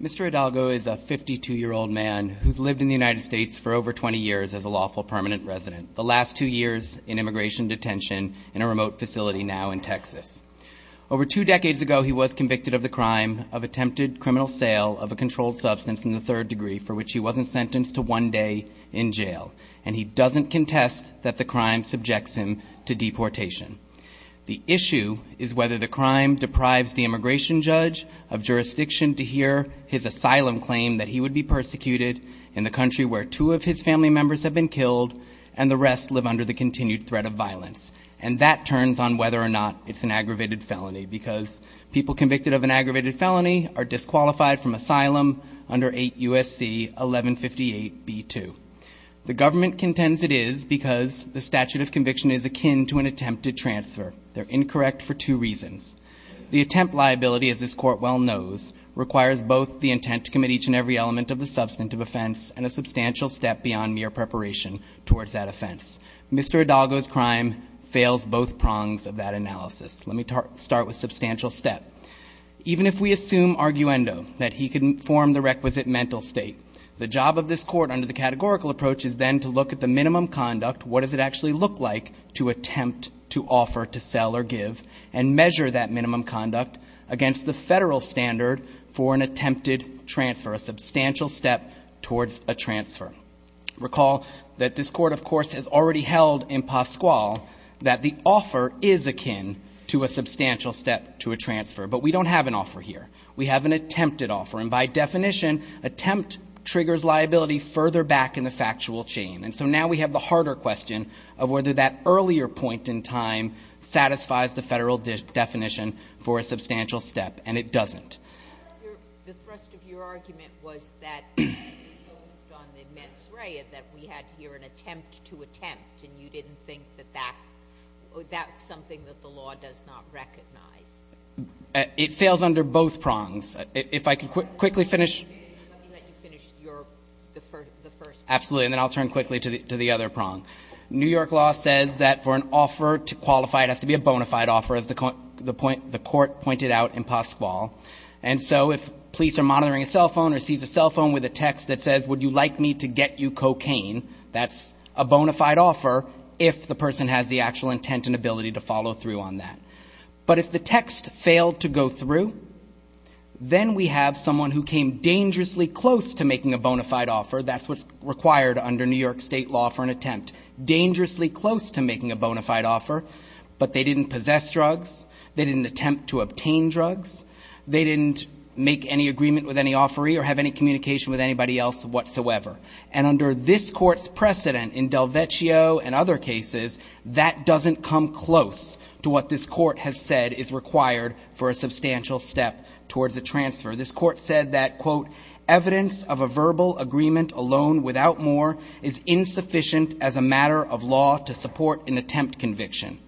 Mr. Hidalgo is a 52-year-old man who has lived in the United States for more than 30 years. as a lawful permanent resident, the last two years in immigration detention in a remote facility now in Texas. Over two decades ago, he was convicted of the crime of attempted criminal sale of a controlled substance in the third degree, for which he wasn't sentenced to one day in jail, and he doesn't contest that the crime subjects him to deportation. The issue is whether the crime deprives the immigration judge of jurisdiction to hear his asylum claim that he would be persecuted in the country where two of his family members have been killed, and the rest live under the continued threat of violence. And that turns on whether or not it's an aggravated felony, because people convicted of an aggravated felony are disqualified from asylum under 8 U.S.C. 1158b2. The government contends it is because the statute of conviction is akin to an attempted transfer. They're incorrect for two reasons. The attempt liability, as this court well knows, requires both the intent to commit each and every element of the substantive offense and a substantial step beyond mere preparation towards that offense. Mr. Hidalgo's crime fails both prongs of that analysis. Let me start with substantial step. Even if we assume arguendo, that he can form the requisite mental state, the job of this court under the categorical approach is then to look at the minimum conduct, what does it actually look like to attempt to offer to sell or give, and measure that minimum conduct against the federal standard for an attempted transfer, a substantial step towards a transfer. Recall that this court, of course, has already held in Pascual that the offer is akin to a substantial step to a transfer. But we don't have an offer here. We have an attempted offer. And by definition, attempt triggers liability further back in the factual chain. And so now we have the harder question of whether that earlier point in time satisfies the federal definition for a substantial step. And it doesn't. The thrust of your argument was that it was focused on the mens rea, that we had here an attempt to attempt, and you didn't think that that's something that the law does not recognize. It fails under both prongs. If I could quickly finish. Absolutely. And then I'll turn quickly to the other prong. New York law says that for an offer to qualify, it has to be a bona fide offer, as the court pointed out in Pascual. And so if police are monitoring a cell phone or sees a cell phone with a text that says, would you like me to get you cocaine, that's a bona fide offer if the person has the actual intent and ability to follow through on that. But if the text failed to go through, then we have someone who came dangerously close to making a bona fide offer. That's what's required under New York state law for an attempt. Dangerously close to making a bona fide offer, but they didn't possess drugs. They didn't attempt to obtain drugs. They didn't make any agreement with any offeree or have any communication with anybody else whatsoever. And under this court's precedent in Del Vecchio and other cases, that doesn't come close to what this court has said is required for a substantial step towards a transfer. This court said that, quote, evidence of a verbal agreement alone without more is insufficient as a matter of law to support an attempt conviction.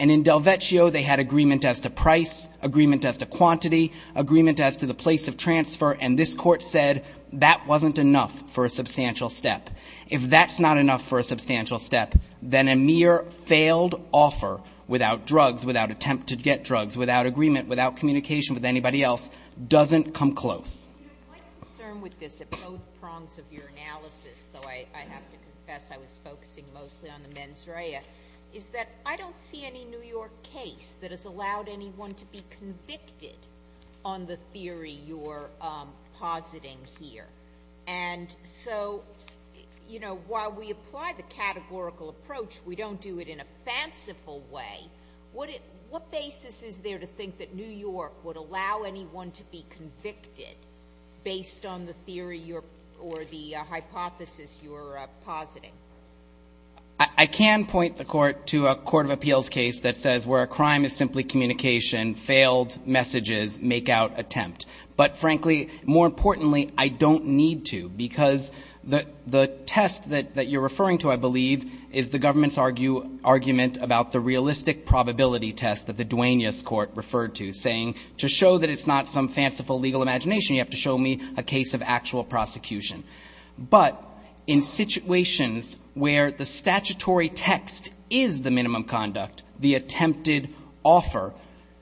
And in Del Vecchio, they had agreement as to price, agreement as to quantity, agreement as to the place of transfer, and this court said that wasn't enough for a substantial step. If that's not enough for a substantial step, then a mere failed offer without drugs, without attempt to get drugs, without agreement, without communication with anybody else, doesn't come close. My concern with this at both prongs of your analysis, though I have to confess I was focusing mostly on the mens rea, is that I don't see any New York case that has allowed anyone to be convicted on the theory you're positing here. And so while we apply the categorical approach, we don't do it in a fanciful way. What basis is there to think that New York would allow anyone to be convicted based on the theory or the hypothesis you're positing? I can point the court to a court of appeals case that says where a crime is simply communication, failed messages, make out attempt. But frankly, more importantly, I don't need to, because the test that you're referring to, I believe, is the government's argument about the realistic probability test that the Duaneus Court referred to, saying to show that it's not some fanciful legal imagination, you have to show me a case of actual prosecution. But in situations where the statutory text is the minimum conduct, the attempted offer,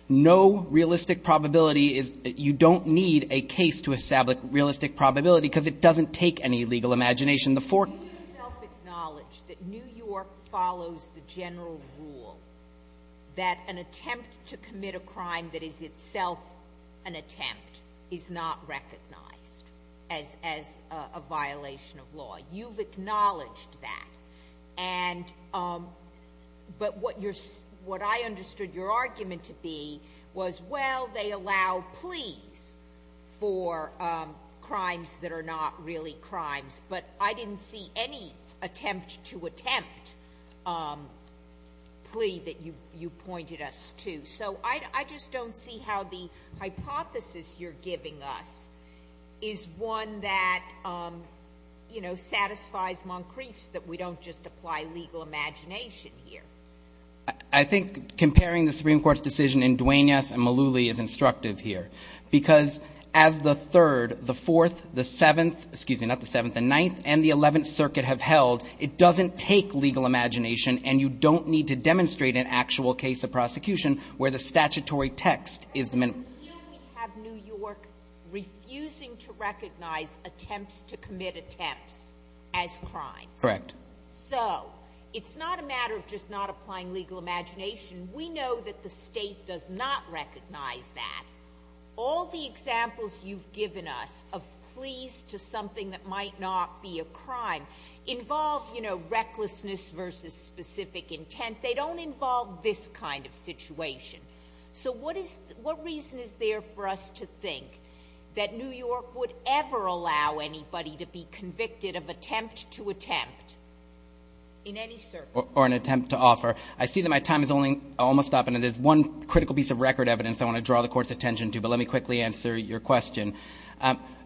no realistic probability is you don't need a case to establish realistic probability, because it doesn't take any legal imagination. The four cases that are in New York, New York follows the general rule that an attempt to commit a crime that is itself an attempt is not recognized as a crime. It's not a violation of law. You've acknowledged that. But what I understood your argument to be was, well, they allow pleas for crimes that are not really crimes. But I didn't see any attempt to attempt plea that you pointed us to. So I just don't see how the hypothesis you're giving us is one that, you know, satisfies Moncrief's, that we don't just apply legal imagination here. I think comparing the Supreme Court's decision in Duaneus and Malouly is instructive here, because as the third, the fourth, the seventh, excuse me, not the seventh, the ninth and the eleventh circuit have held, it doesn't take legal imagination and you don't need to demonstrate an actual case of prosecution where the statutory text is the minimum. And here we have New York refusing to recognize attempts to commit attempts as crimes. Correct. So it's not a matter of just not applying legal imagination. We know that the state does not recognize that. All the examples you've given us of pleas to something that might not be a crime involve, you know, recklessness versus specific intent. They don't involve this kind of situation. So what is the – what reason is there for us to think that New York would ever allow anybody to be convicted of attempt to attempt in any circumstance? Or an attempt to offer. I see that my time is almost up, and there's one critical piece of record evidence I want to draw the Court's attention to, but let me quickly answer your question.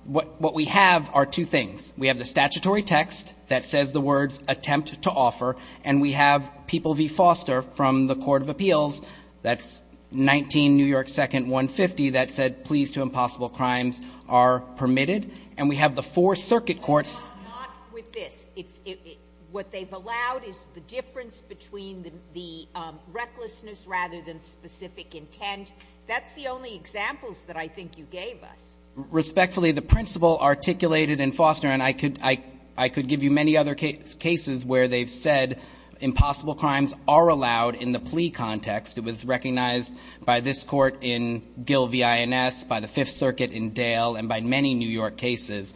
What we have are two things. We have the statutory text that says the words attempt to offer, and we have People v. Foster from the Court of Appeals, that's 19 New York 2nd, 150, that said pleas to impossible crimes are permitted. And we have the four circuit courts. But not with this. It's – what they've allowed is the difference between the recklessness rather than specific intent. That's the only examples that I think you gave us. Respectfully, the principle articulated in Foster, and I could give you many other cases where they've said impossible crimes are allowed in the plea context. It was recognized by this Court in Gill v. INS, by the Fifth Circuit in Dale, and by many New York cases,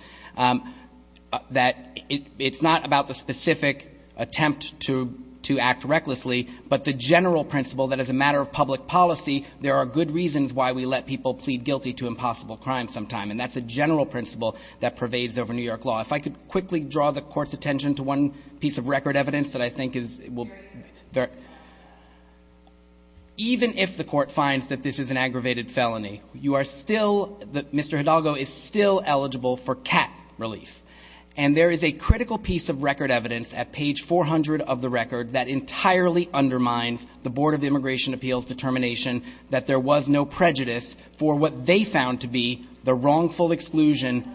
that it's not about the specific attempt to act recklessly, but the general principle that as a matter of public policy, there are good reasons why we let people plead guilty to impossible crime sometime, and that's a general principle that pervades over New York law. If I could quickly draw the Court's attention to one piece of record evidence that I think is – even if the Court finds that this is an aggravated felony, you are still – Mr. Hidalgo is still eligible for cat relief. And there is a critical piece of record evidence at page 400 of the record that entirely undermines the Board of Immigration Appeals' determination that there was no prejudice for what they found to be the wrongful exclusion.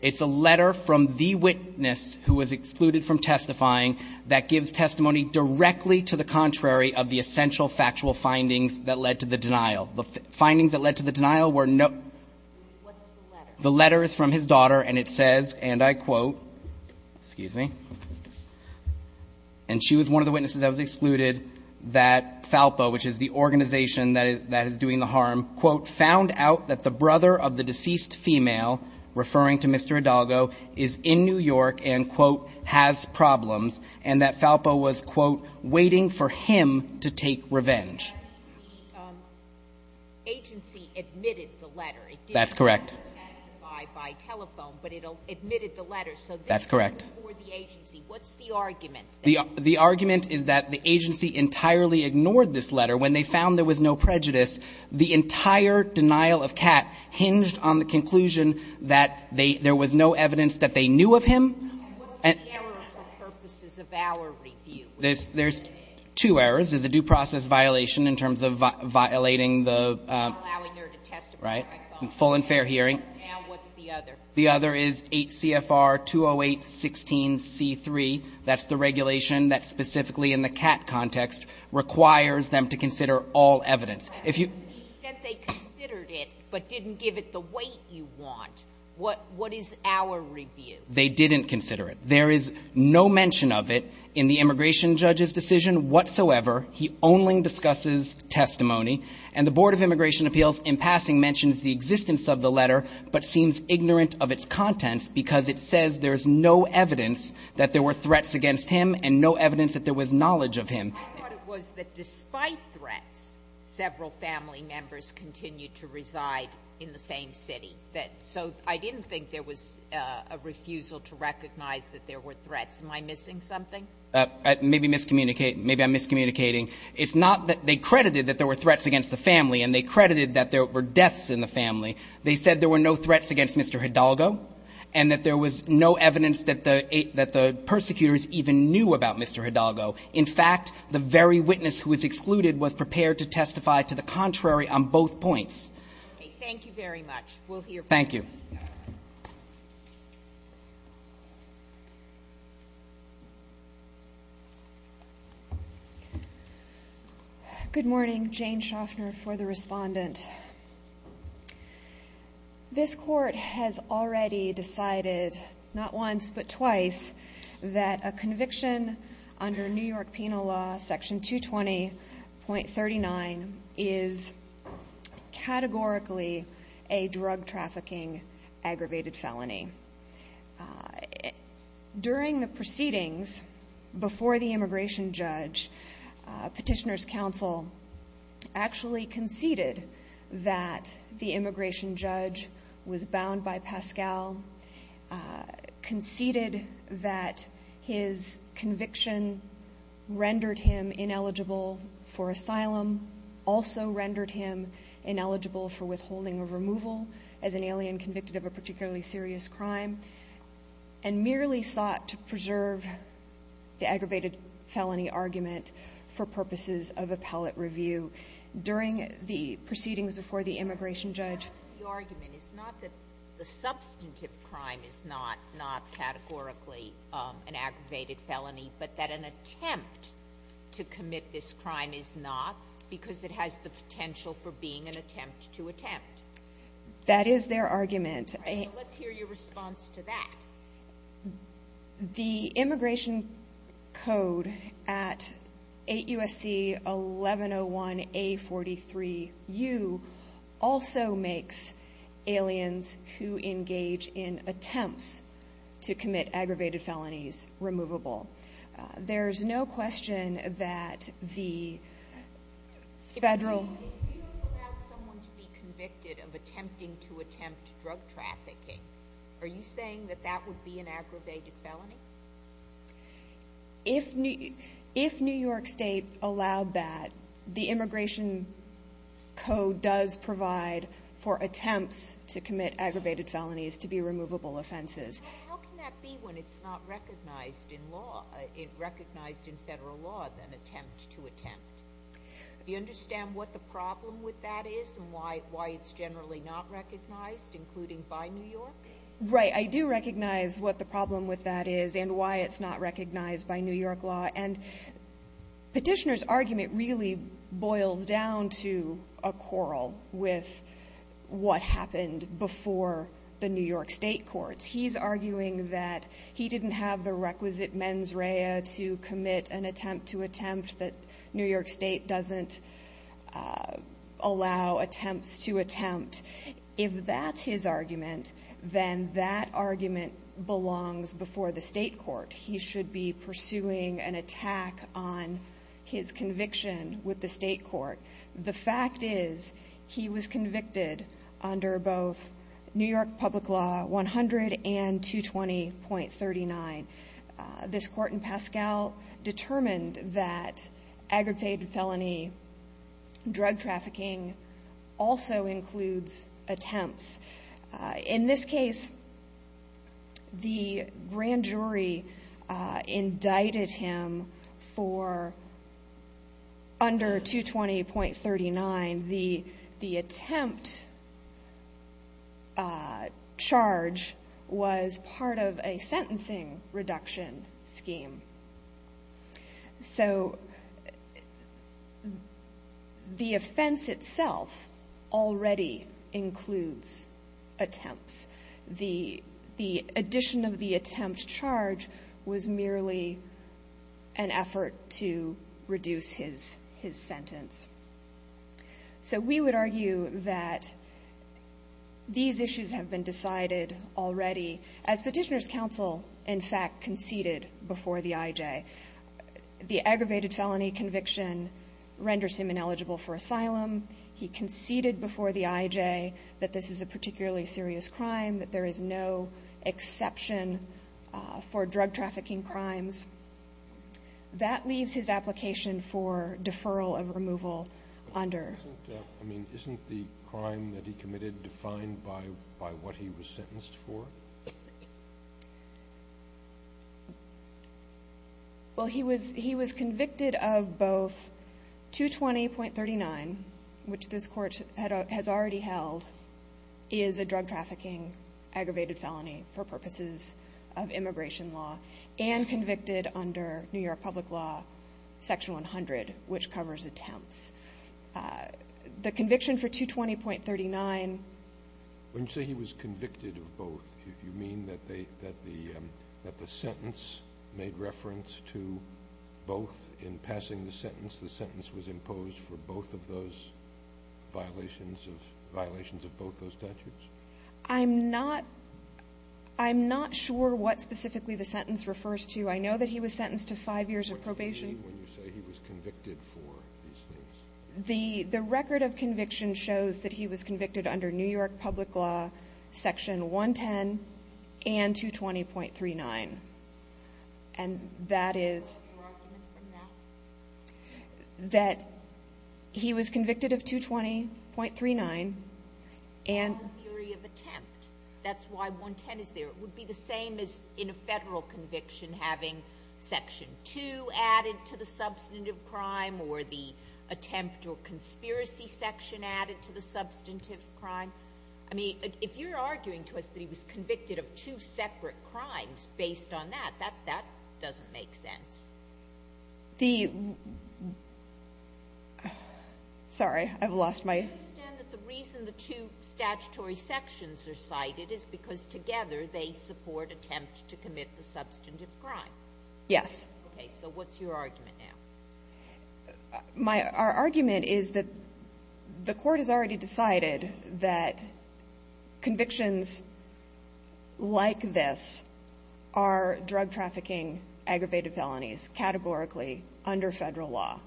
It's a letter from the witness who was excluded from testifying that gives testimony directly to the contrary of the essential factual findings that led to the denial. The findings that led to the denial were no – What's the letter? The letter is from his daughter, and it says, and I quote – excuse me – and she was one of the witnesses that was excluded that FALPA, which is the organization that is doing the harm, quote, found out that the brother of the deceased female – referring to Mr. Hidalgo – is in New York and, quote, has problems, and that FALPA was, quote, waiting for him to take revenge. The agency admitted the letter. That's correct. It didn't do it by telephone, but it admitted the letter. That's correct. So this was before the agency. What's the argument? The argument is that the agency entirely ignored this letter. When they found there was no prejudice, the entire denial of cat hinged on the conclusion that there was no evidence that they knew of him. And what's the error for purposes of our review? There's two errors. There's a due process violation in terms of violating the – Allowing her to testify by phone. Right. Full and fair hearing. And what's the other? The other is 8 CFR 208.16.C.3. That's the regulation that specifically in the cat context requires them to consider all evidence. If you – He said they considered it but didn't give it the weight you want. What is our review? They didn't consider it. There is no mention of it in the immigration judge's decision whatsoever. He only discusses testimony. And the Board of Immigration Appeals in passing mentions the existence of the letter but seems ignorant of its contents because it says there's no evidence that there were threats against him and no evidence that there was knowledge of him. I thought it was that despite threats, several family members continued to reside in the same city. So I didn't think there was a refusal to recognize that there were threats. Am I missing something? Maybe I'm miscommunicating. It's not that they credited that there were threats against the family and they credited that there were deaths in the family. They said there were no threats against Mr. Hidalgo and that there was no evidence that the persecutors even knew about Mr. Hidalgo. In fact, the very witness who was excluded was prepared to testify to the contrary on both points. Thank you very much. We'll hear from you. Thank you. Good morning. Jane Shoffner for the respondent. This court has already decided not once but twice that a conviction under New York is categorically a drug trafficking aggravated felony. During the proceedings before the immigration judge, Petitioner's Counsel actually conceded that the immigration judge was bound by Pascal, conceded that his conviction rendered him ineligible for asylum, also rendered him ineligible for withholding of removal as an alien convicted of a particularly serious crime, and merely sought to preserve the aggravated felony argument for purposes of appellate review. During the proceedings before the immigration judge The argument is not that the substantive crime is not categorically an aggravated felony, but that an attempt to commit this crime is not because it has the potential for being an attempt to attempt. That is their argument. Let's hear your response to that. The immigration code at 8 USC 1101A43U also makes aliens who engage in attempts to commit aggravated felonies removable. There is no question that the federal If you allow someone to be convicted of attempting to attempt drug trafficking, are you saying that that would be an aggravated felony? If New York State allowed that, the immigration code does provide for attempts to commit aggravated felonies to be removable offenses. How can that be when it's not recognized in law, recognized in federal law as an attempt to attempt? Do you understand what the problem with that is, and why it's generally not recognized, including by New York? Right, I do recognize what the problem with that is, and why it's not recognized by New York law. Petitioner's argument really boils down to a quarrel with what happened before the New York State courts. He's arguing that he didn't have the requisite mens rea to commit an attempt to attempt, that New York State doesn't allow attempts to attempt. If that's his argument, then that argument belongs before the state court. He should be pursuing an attack on his conviction with the state court. The fact is, he was convicted under both New York public law 100 and 220.39. This court in Pascal determined that aggravated felony drug trafficking also includes attempts. In this case, the grand jury indicted him for under 220.39. The attempt charge was part of a sentencing reduction scheme. The offense itself already includes attempts. The addition of the attempt charge was merely an effort to reduce his sentence. We would argue that these issues have been decided already, as Petitioner's counsel, in fact, conceded before the IJ. The aggravated felony conviction renders him ineligible for asylum. He conceded before the IJ that this is a particularly serious crime, that there is no exception for drug trafficking crimes. That leaves his application for deferral of removal under. Isn't the crime that he committed defined by what he was sentenced for? He was convicted of both 220.39, which this court has already held, is a drug trafficking aggravated felony for purposes of immigration law, and convicted under New York Public Law Section 100, which covers attempts. The conviction for 220.39. When you say he was convicted of both, do you mean that the sentence made reference to both in passing the sentence? The sentence was imposed for both of those violations of both those statutes? I'm not sure what specifically the sentence refers to. I know that he was sentenced to five years of probation. What do you mean when you say he was convicted for these things? The record of conviction shows that he was convicted under New York Public Law Section 110 and 220.39. And that is that he was convicted of 220.39. That's why 110 is there. It would be the same as in a federal conviction having Section 2 added to the substantive crime or the attempt or conspiracy section added to the substantive crime. I mean, if you're arguing to us that he was convicted of two separate crimes based on that, that doesn't make sense. The – sorry, I've lost my – I understand that the reason the two statutory sections are cited is because together they support attempts to commit the substantive crime. Yes. Okay, so what's your argument now? Our argument is that the court has already decided that convictions like this are drug trafficking aggravated felonies categorically under federal law,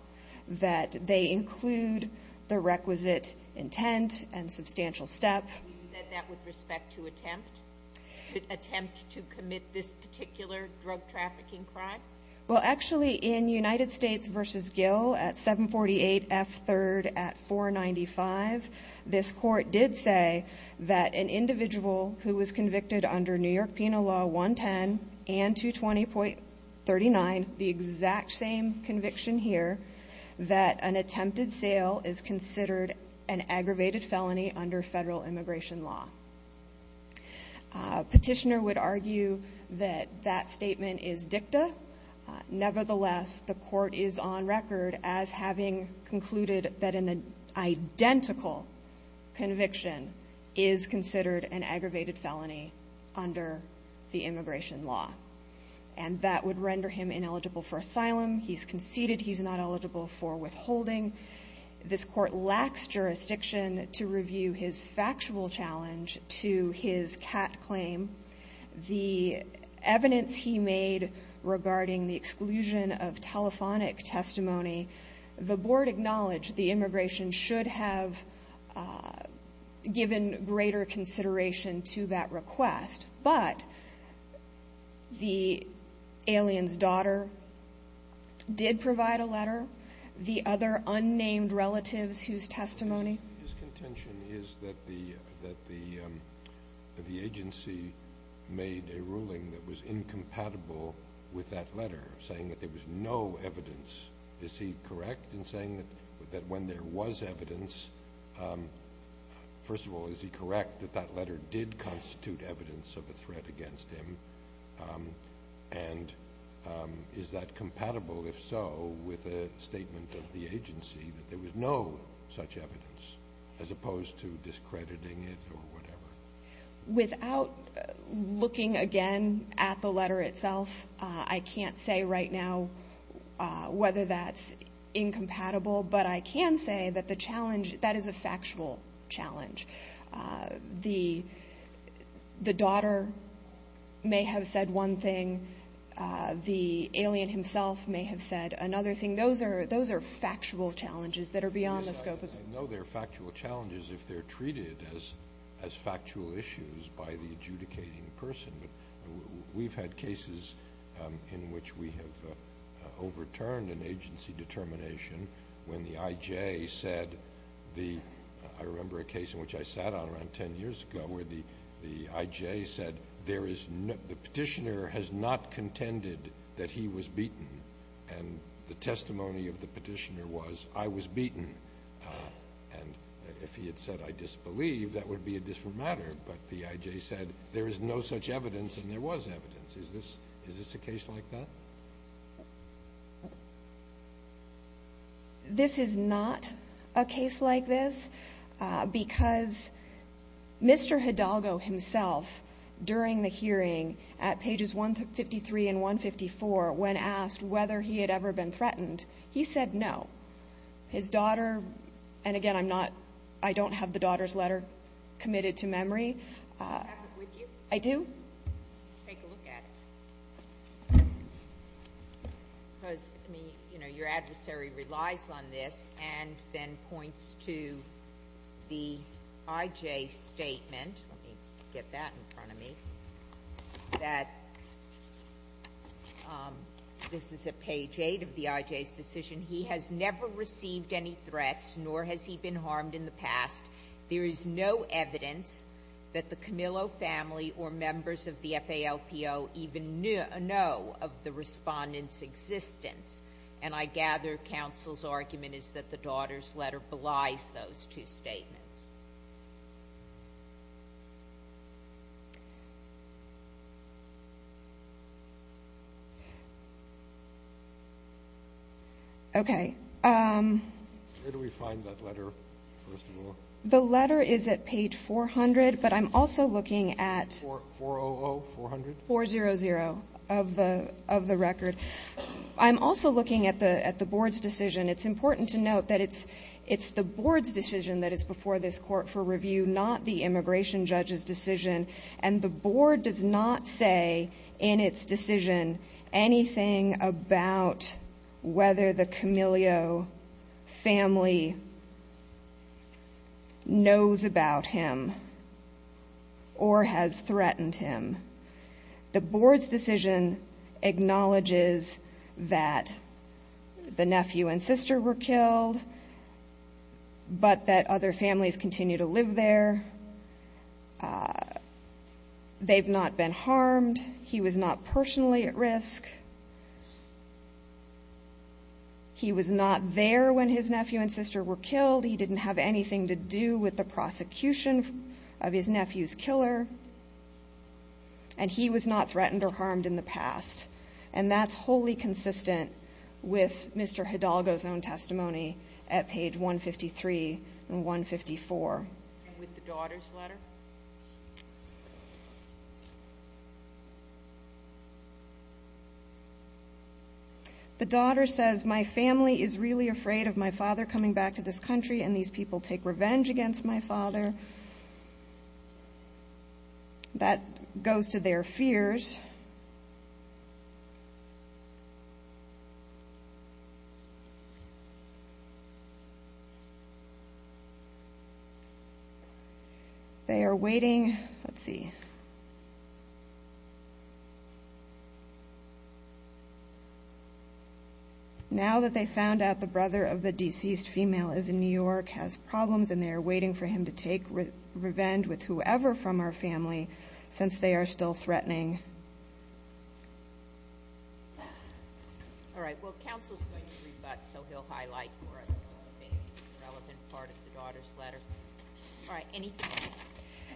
that they include the requisite intent and substantial step. You said that with respect to attempt to commit this particular drug trafficking crime? Well, actually, in United States v. Gill at 748 F. 3rd at 495, this court did say that an individual who was convicted under New York Penal Law 110 and 220.39, the exact same conviction here, that an attempted sale is considered an aggravated felony under federal immigration law. A petitioner would argue that that statement is dicta. Nevertheless, the court is on record as having concluded that an identical conviction is considered an aggravated felony under the immigration law. And that would render him ineligible for asylum. He's conceded he's not eligible for withholding. This court lacks jurisdiction to review his factual challenge to his cat claim. The evidence he made regarding the exclusion of telephonic testimony, the board acknowledged the immigration should have given greater consideration to that request. But the alien's daughter did provide a letter. The other unnamed relatives whose testimony. His contention is that the agency made a ruling that was incompatible with that letter, saying that there was no evidence. Is he correct in saying that when there was evidence, first of all, is he correct that that letter did constitute evidence of a threat against him? And is that compatible, if so, with a statement of the agency that there was no such evidence, as opposed to discrediting it or whatever? Without looking again at the letter itself, I can't say right now whether that's incompatible, but I can say that the challenge, that is a factual challenge. The daughter may have said one thing. The alien himself may have said another thing. Those are factual challenges that are beyond the scope of this. I know they're factual challenges if they're treated as factual issues by the adjudicating person, but we've had cases in which we have overturned an agency determination when the IJ said the, I remember a case in which I sat on around 10 years ago where the IJ said the petitioner has not contended that he was beaten, and the testimony of the petitioner was I was beaten. And if he had said I disbelieve, that would be a different matter, but the IJ said there is no such evidence and there was evidence. Is this a case like that? This is not a case like this because Mr. Hidalgo himself during the hearing at pages 153 and 154 when asked whether he had ever been threatened, he said no. His daughter, and again I'm not, I don't have the daughter's letter committed to memory. Do you have it with you? I do. Take a look at it. Because, I mean, you know, your adversary relies on this and then points to the IJ's statement. Let me get that in front of me. That this is at page 8 of the IJ's decision. He has never received any threats, nor has he been harmed in the past. There is no evidence that the Camillo family or members of the FALPO even know of the respondent's existence. And I gather counsel's argument is that the daughter's letter belies those two statements. Okay. Where do we find that letter, first of all? The letter is at page 400, but I'm also looking at 400 of the record. I'm also looking at the board's decision. It's important to note that it's the board's decision that is before this court for review, not the immigration judge's decision. And the board does not say in its decision anything about whether the Camillo family knows about him or has threatened him. The board's decision acknowledges that the nephew and sister were killed, but that other families continue to live there. They've not been harmed. He was not personally at risk. He was not there when his nephew and sister were killed. He didn't have anything to do with the prosecution of his nephew's killer, and he was not threatened or harmed in the past. And that's wholly consistent with Mr. Hidalgo's own testimony at page 153 and 154. And with the daughter's letter? The daughter says, my family is really afraid of my father coming back to this country, and these people take revenge against my father. That goes to their fears. They are waiting. Let's see. Now that they found out the brother of the deceased female is in New York, has problems, and they are waiting for him to take revenge with whoever from her family since they are still threatening. All right, well, counsel's going to rebut, so he'll highlight for us the most relevant part of the daughter's letter. All right, anything else?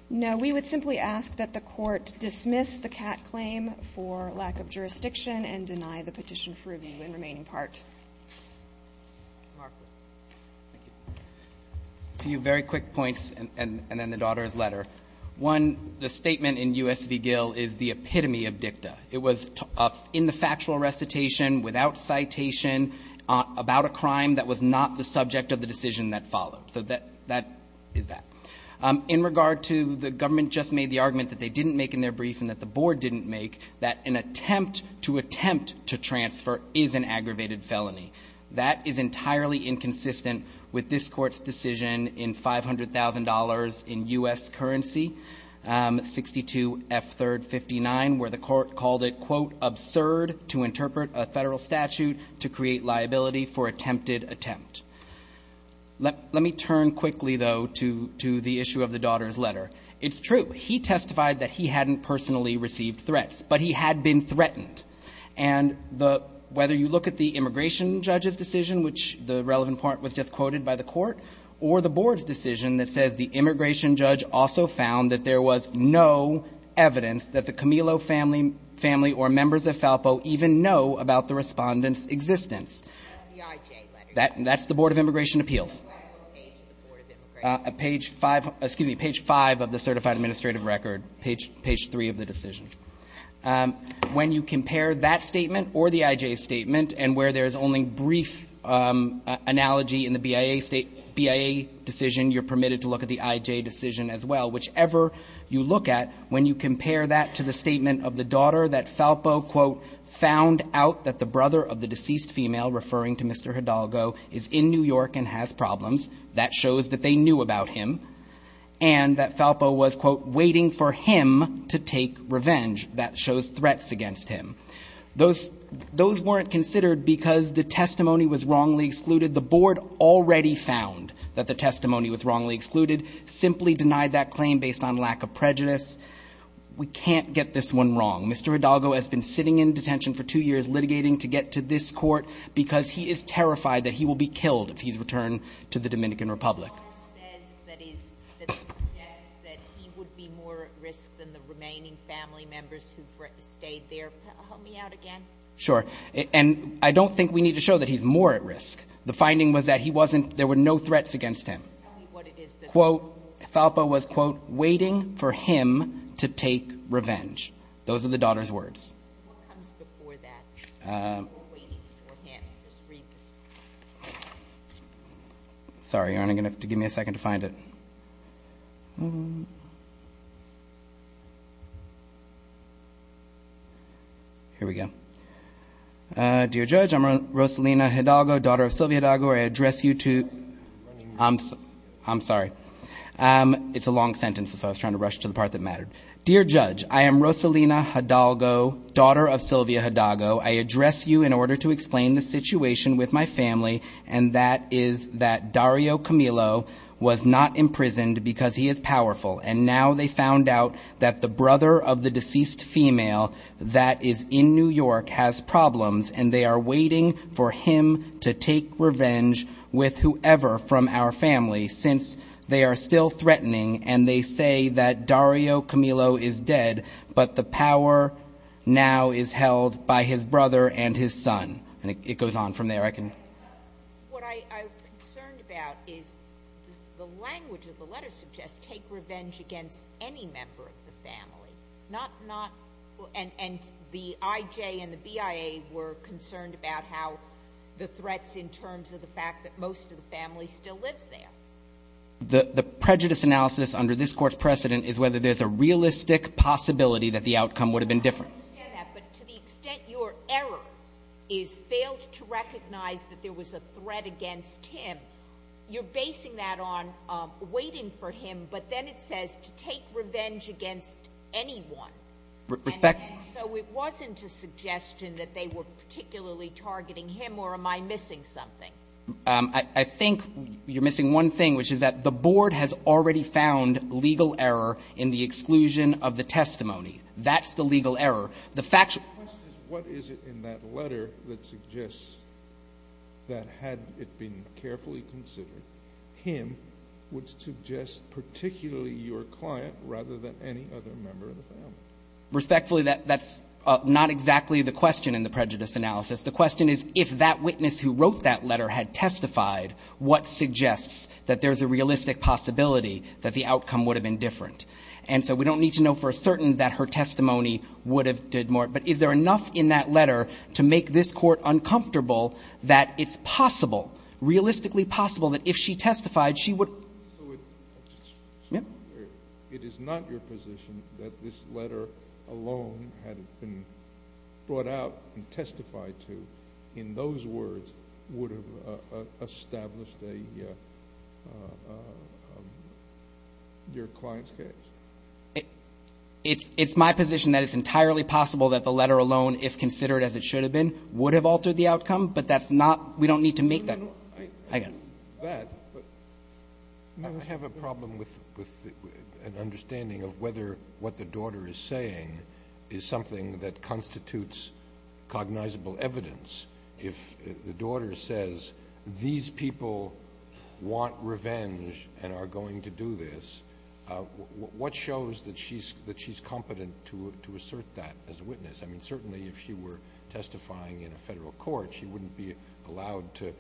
No, we would simply ask that the court dismiss the Catt claim for lack of jurisdiction and deny the petition for review in the remaining part. Mark. A few very quick points, and then the daughter's letter. One, the statement in U.S. v. Gill is the epitome of dicta. It was in the factual recitation, without citation, about a crime that was not the subject of the decision that followed. So that is that. In regard to the government just made the argument that they didn't make in their brief and that the board didn't make, that an attempt to attempt to transfer is an aggravated felony. That is entirely inconsistent with this court's decision in $500,000 in U.S. currency, 62F3rd 59, where the court called it, quote, absurd to interpret a federal statute to create liability for attempted attempt. Let me turn quickly, though, to the issue of the daughter's letter. It's true. He testified that he hadn't personally received threats, but he had been threatened. And whether you look at the immigration judge's decision, which the relevant part was just quoted by the court, or the board's decision that says the immigration judge also found that there was no evidence that the Camillo family or members of FALPO even know about the respondent's existence. That's the Board of Immigration Appeals. Page 5, excuse me, page 5 of the certified administrative record, page 3 of the decision. When you compare that statement or the I.J. statement and where there is only brief analogy in the BIA decision, you're permitted to look at the I.J. decision as well. Whichever you look at, when you compare that to the statement of the daughter that FALPO, quote, that the brother of the deceased female, referring to Mr. Hidalgo, is in New York and has problems, that shows that they knew about him, and that FALPO was, quote, waiting for him to take revenge. That shows threats against him. Those weren't considered because the testimony was wrongly excluded. The board already found that the testimony was wrongly excluded, simply denied that claim based on lack of prejudice. We can't get this one wrong. Mr. Hidalgo has been sitting in detention for two years litigating to get to this court because he is terrified that he will be killed if he's returned to the Dominican Republic. FALPO says that he would be more at risk than the remaining family members who've stayed there. Help me out again. Sure. And I don't think we need to show that he's more at risk. The finding was that he wasn't, there were no threats against him. Tell me what it is that FALPO was, quote, waiting for him to take revenge. Those are the daughter's words. What comes before that? We're waiting for him. Just read this. Sorry, Your Honor, you're going to have to give me a second to find it. Here we go. Dear Judge, I'm Rosalina Hidalgo, daughter of Sylvia Hidalgo. I address you to, I'm sorry. Dear Judge, I am Rosalina Hidalgo, daughter of Sylvia Hidalgo. I address you in order to explain the situation with my family, and that is that Dario Camilo was not imprisoned because he is powerful, and now they found out that the brother of the deceased female that is in New York has problems, and they are waiting for him to take revenge with whoever from our family since they are still threatening, and they say that Dario Camilo is dead, but the power now is held by his brother and his son. And it goes on from there. What I'm concerned about is the language of the letter suggests take revenge against any member of the family, and the IJ and the BIA were concerned about how the threats in terms of the fact that most of the family still lives there. The prejudice analysis under this Court's precedent is whether there's a realistic possibility that the outcome would have been different. I understand that, but to the extent your error is failed to recognize that there was a threat against him, you're basing that on waiting for him, but then it says to take revenge against anyone. Respect? And so it wasn't a suggestion that they were particularly targeting him, or am I missing something? I think you're missing one thing, which is that the board has already found legal error in the exclusion of the testimony. That's the legal error. The fact is what is it in that letter that suggests that had it been carefully considered, him would suggest particularly your client rather than any other member of the family. Respectfully, that's not exactly the question in the prejudice analysis. The question is if that witness who wrote that letter had testified, what suggests that there's a realistic possibility that the outcome would have been different. And so we don't need to know for certain that her testimony would have did more, but is there enough in that letter to make this Court uncomfortable that it's possible, realistically possible, that if she testified, she would? So it is not your position that this letter alone had it been brought out and testified to, in those words, would have established your client's case? It's my position that it's entirely possible that the letter alone, if considered as it should have been, would have altered the outcome, but that's not we don't need to make that. I have a problem with an understanding of whether what the daughter is saying is something that constitutes cognizable evidence. If the daughter says these people want revenge and are going to do this, what shows that she's competent to assert that as a witness? I mean, certainly if she were testifying in a Federal court, she wouldn't be allowed to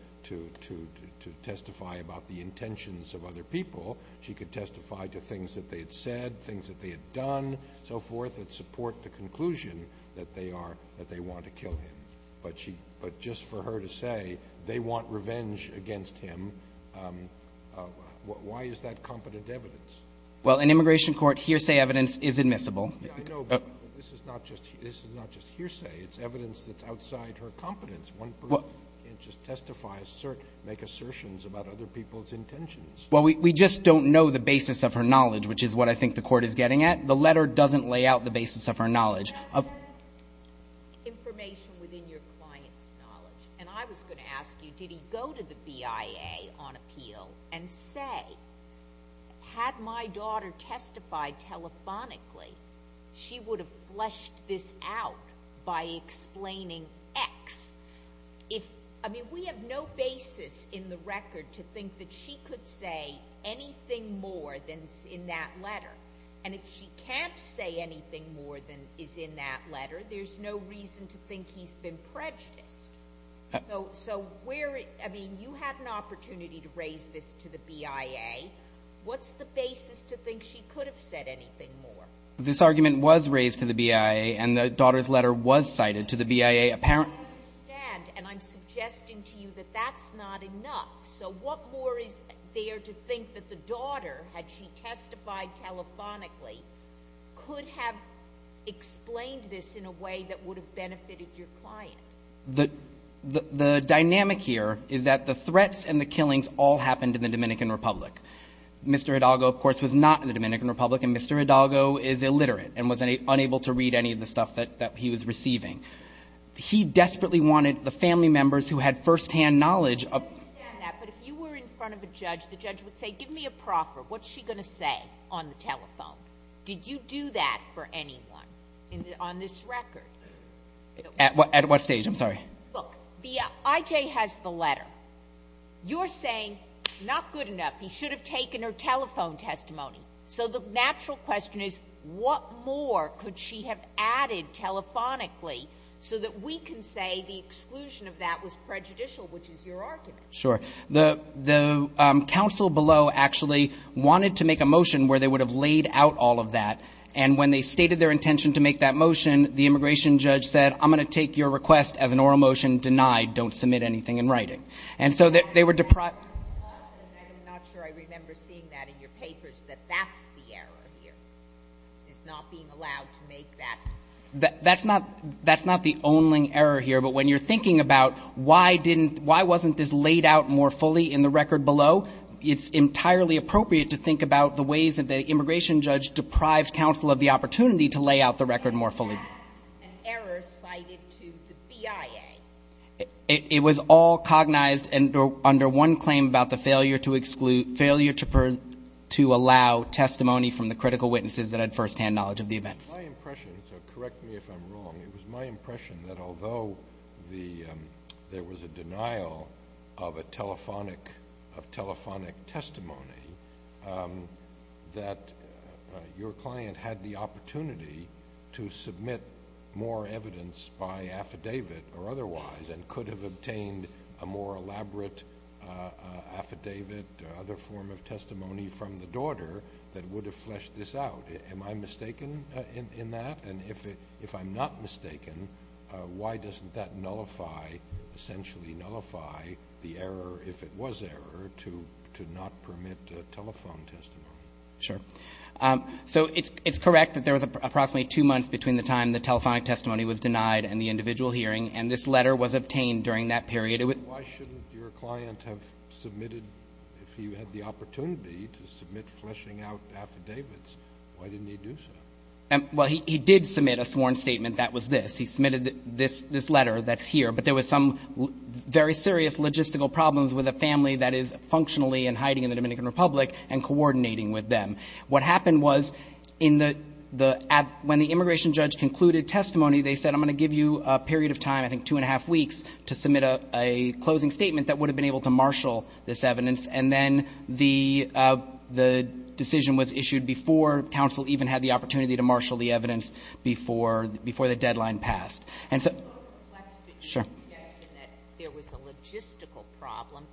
testify about the intentions of other people. She could testify to things that they had said, things that they had done, so forth, that support the conclusion that they are, that they want to kill him. But just for her to say they want revenge against him, why is that competent evidence? Well, in immigration court, hearsay evidence is admissible. I know, but this is not just hearsay. It's evidence that's outside her competence. One person can't just testify, assert, make assertions about other people's intentions. Well, we just don't know the basis of her knowledge, which is what I think the Court is getting at. The letter doesn't lay out the basis of her knowledge. That says information within your client's knowledge. And I was going to ask you, did he go to the BIA on appeal and say, had my daughter testified telephonically, she would have fleshed this out by explaining X? If, I mean, we have no basis in the record to think that she could say anything more than in that letter. And if she can't say anything more than is in that letter, there's no reason to think he's been prejudiced. So where, I mean, you had an opportunity to raise this to the BIA. What's the basis to think she could have said anything more? This argument was raised to the BIA, and the daughter's letter was cited to the BIA. I understand, and I'm suggesting to you that that's not enough. So what more is there to think that the daughter, had she testified telephonically, could have explained this in a way that would have benefited your client? The dynamic here is that the threats and the killings all happened in the Dominican Republic. Mr. Hidalgo, of course, was not in the Dominican Republic. And Mr. Hidalgo is illiterate and was unable to read any of the stuff that he was receiving. He desperately wanted the family members who had firsthand knowledge of the case to know what was going on. I understand that. But if you were in front of a judge, the judge would say, give me a proffer. What's she going to say on the telephone? Did you do that for anyone on this record? At what stage? I'm sorry. Look, the IJ has the letter. You're saying, not good enough. He should have taken her telephone testimony. So the natural question is, what more could she have added telephonically so that we can say the exclusion of that was prejudicial, which is your argument? Sure. The counsel below actually wanted to make a motion where they would have laid out all of that. And when they stated their intention to make that motion, the immigration judge said, I'm going to take your request as an oral motion denied. Don't submit anything in writing. And so they were deprived. I'm not sure I remember seeing that in your papers, that that's the error here, is not being allowed to make that. That's not the only error here. But when you're thinking about why wasn't this laid out more fully in the record below, it's entirely appropriate to think about the ways that the immigration judge deprived counsel of the opportunity to lay out the record more fully. And that's an error cited to the BIA. It was all cognized under one claim about the failure to allow testimony from the critical witnesses that had firsthand knowledge of the events. It was my impression, so correct me if I'm wrong, it was my impression that although there was a denial of telephonic testimony, that your client had the opportunity to submit more evidence by affidavit or otherwise and could have obtained a more elaborate affidavit or other form of testimony from the daughter that would have fleshed this out. Am I mistaken in that? And if I'm not mistaken, why doesn't that nullify, essentially nullify the error, if it was error, to not permit telephone testimony? Sure. So it's correct that there was approximately two months between the time the telephonic testimony was denied and the individual hearing, and this letter was obtained during that period. Why shouldn't your client have submitted, if he had the opportunity to submit fleshing out affidavits, why didn't he do so? Well, he did submit a sworn statement that was this. He submitted this letter that's here. But there was some very serious logistical problems with a family that is functionally in hiding in the Dominican Republic and coordinating with them. What happened was when the immigration judge concluded testimony, they said, I'm going to give you a period of time, I think two and a half weeks, to submit a closing statement that would have been able to marshal this evidence. And then the decision was issued before counsel even had the opportunity to marshal the evidence before the deadline passed. And so the question is that there was a logistical problem.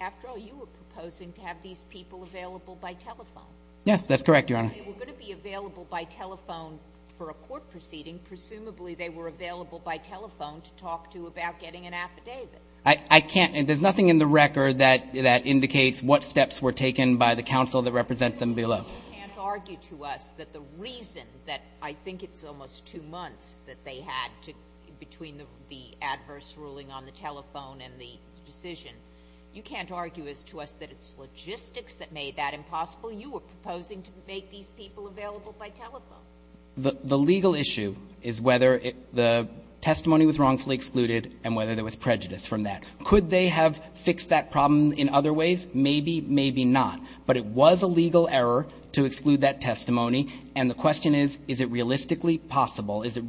After all, you were proposing to have these people available by telephone. Yes, that's correct, Your Honor. They were going to be available by telephone for a court proceeding. Presumably they were available by telephone to talk to about getting an affidavit. I can't. There's nothing in the record that indicates what steps were taken by the counsel that represent them below. You can't argue to us that the reason that I think it's almost two months that they had to, between the adverse ruling on the telephone and the decision, you can't argue as to us that it's logistics that made that impossible. You were proposing to make these people available by telephone. The legal issue is whether the testimony was wrongfully excluded and whether there was prejudice from that. Could they have fixed that problem in other ways? Maybe, maybe not. But it was a legal error to exclude that testimony. And the question is, is it realistically possible? Is it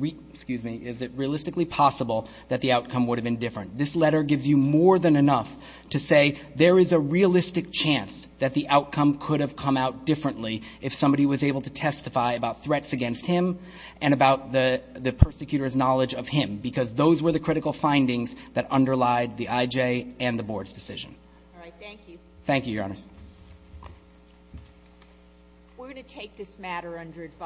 realistically possible that the outcome would have been different? This letter gives you more than enough to say there is a realistic chance that the outcome could have come out differently if somebody was able to testify about threats against him and about the persecutor's knowledge of him, because those were the critical findings that underlied the IJ and the board's decision. All right. Thank you. Thank you, Your Honor. We're going to take this matter under advice.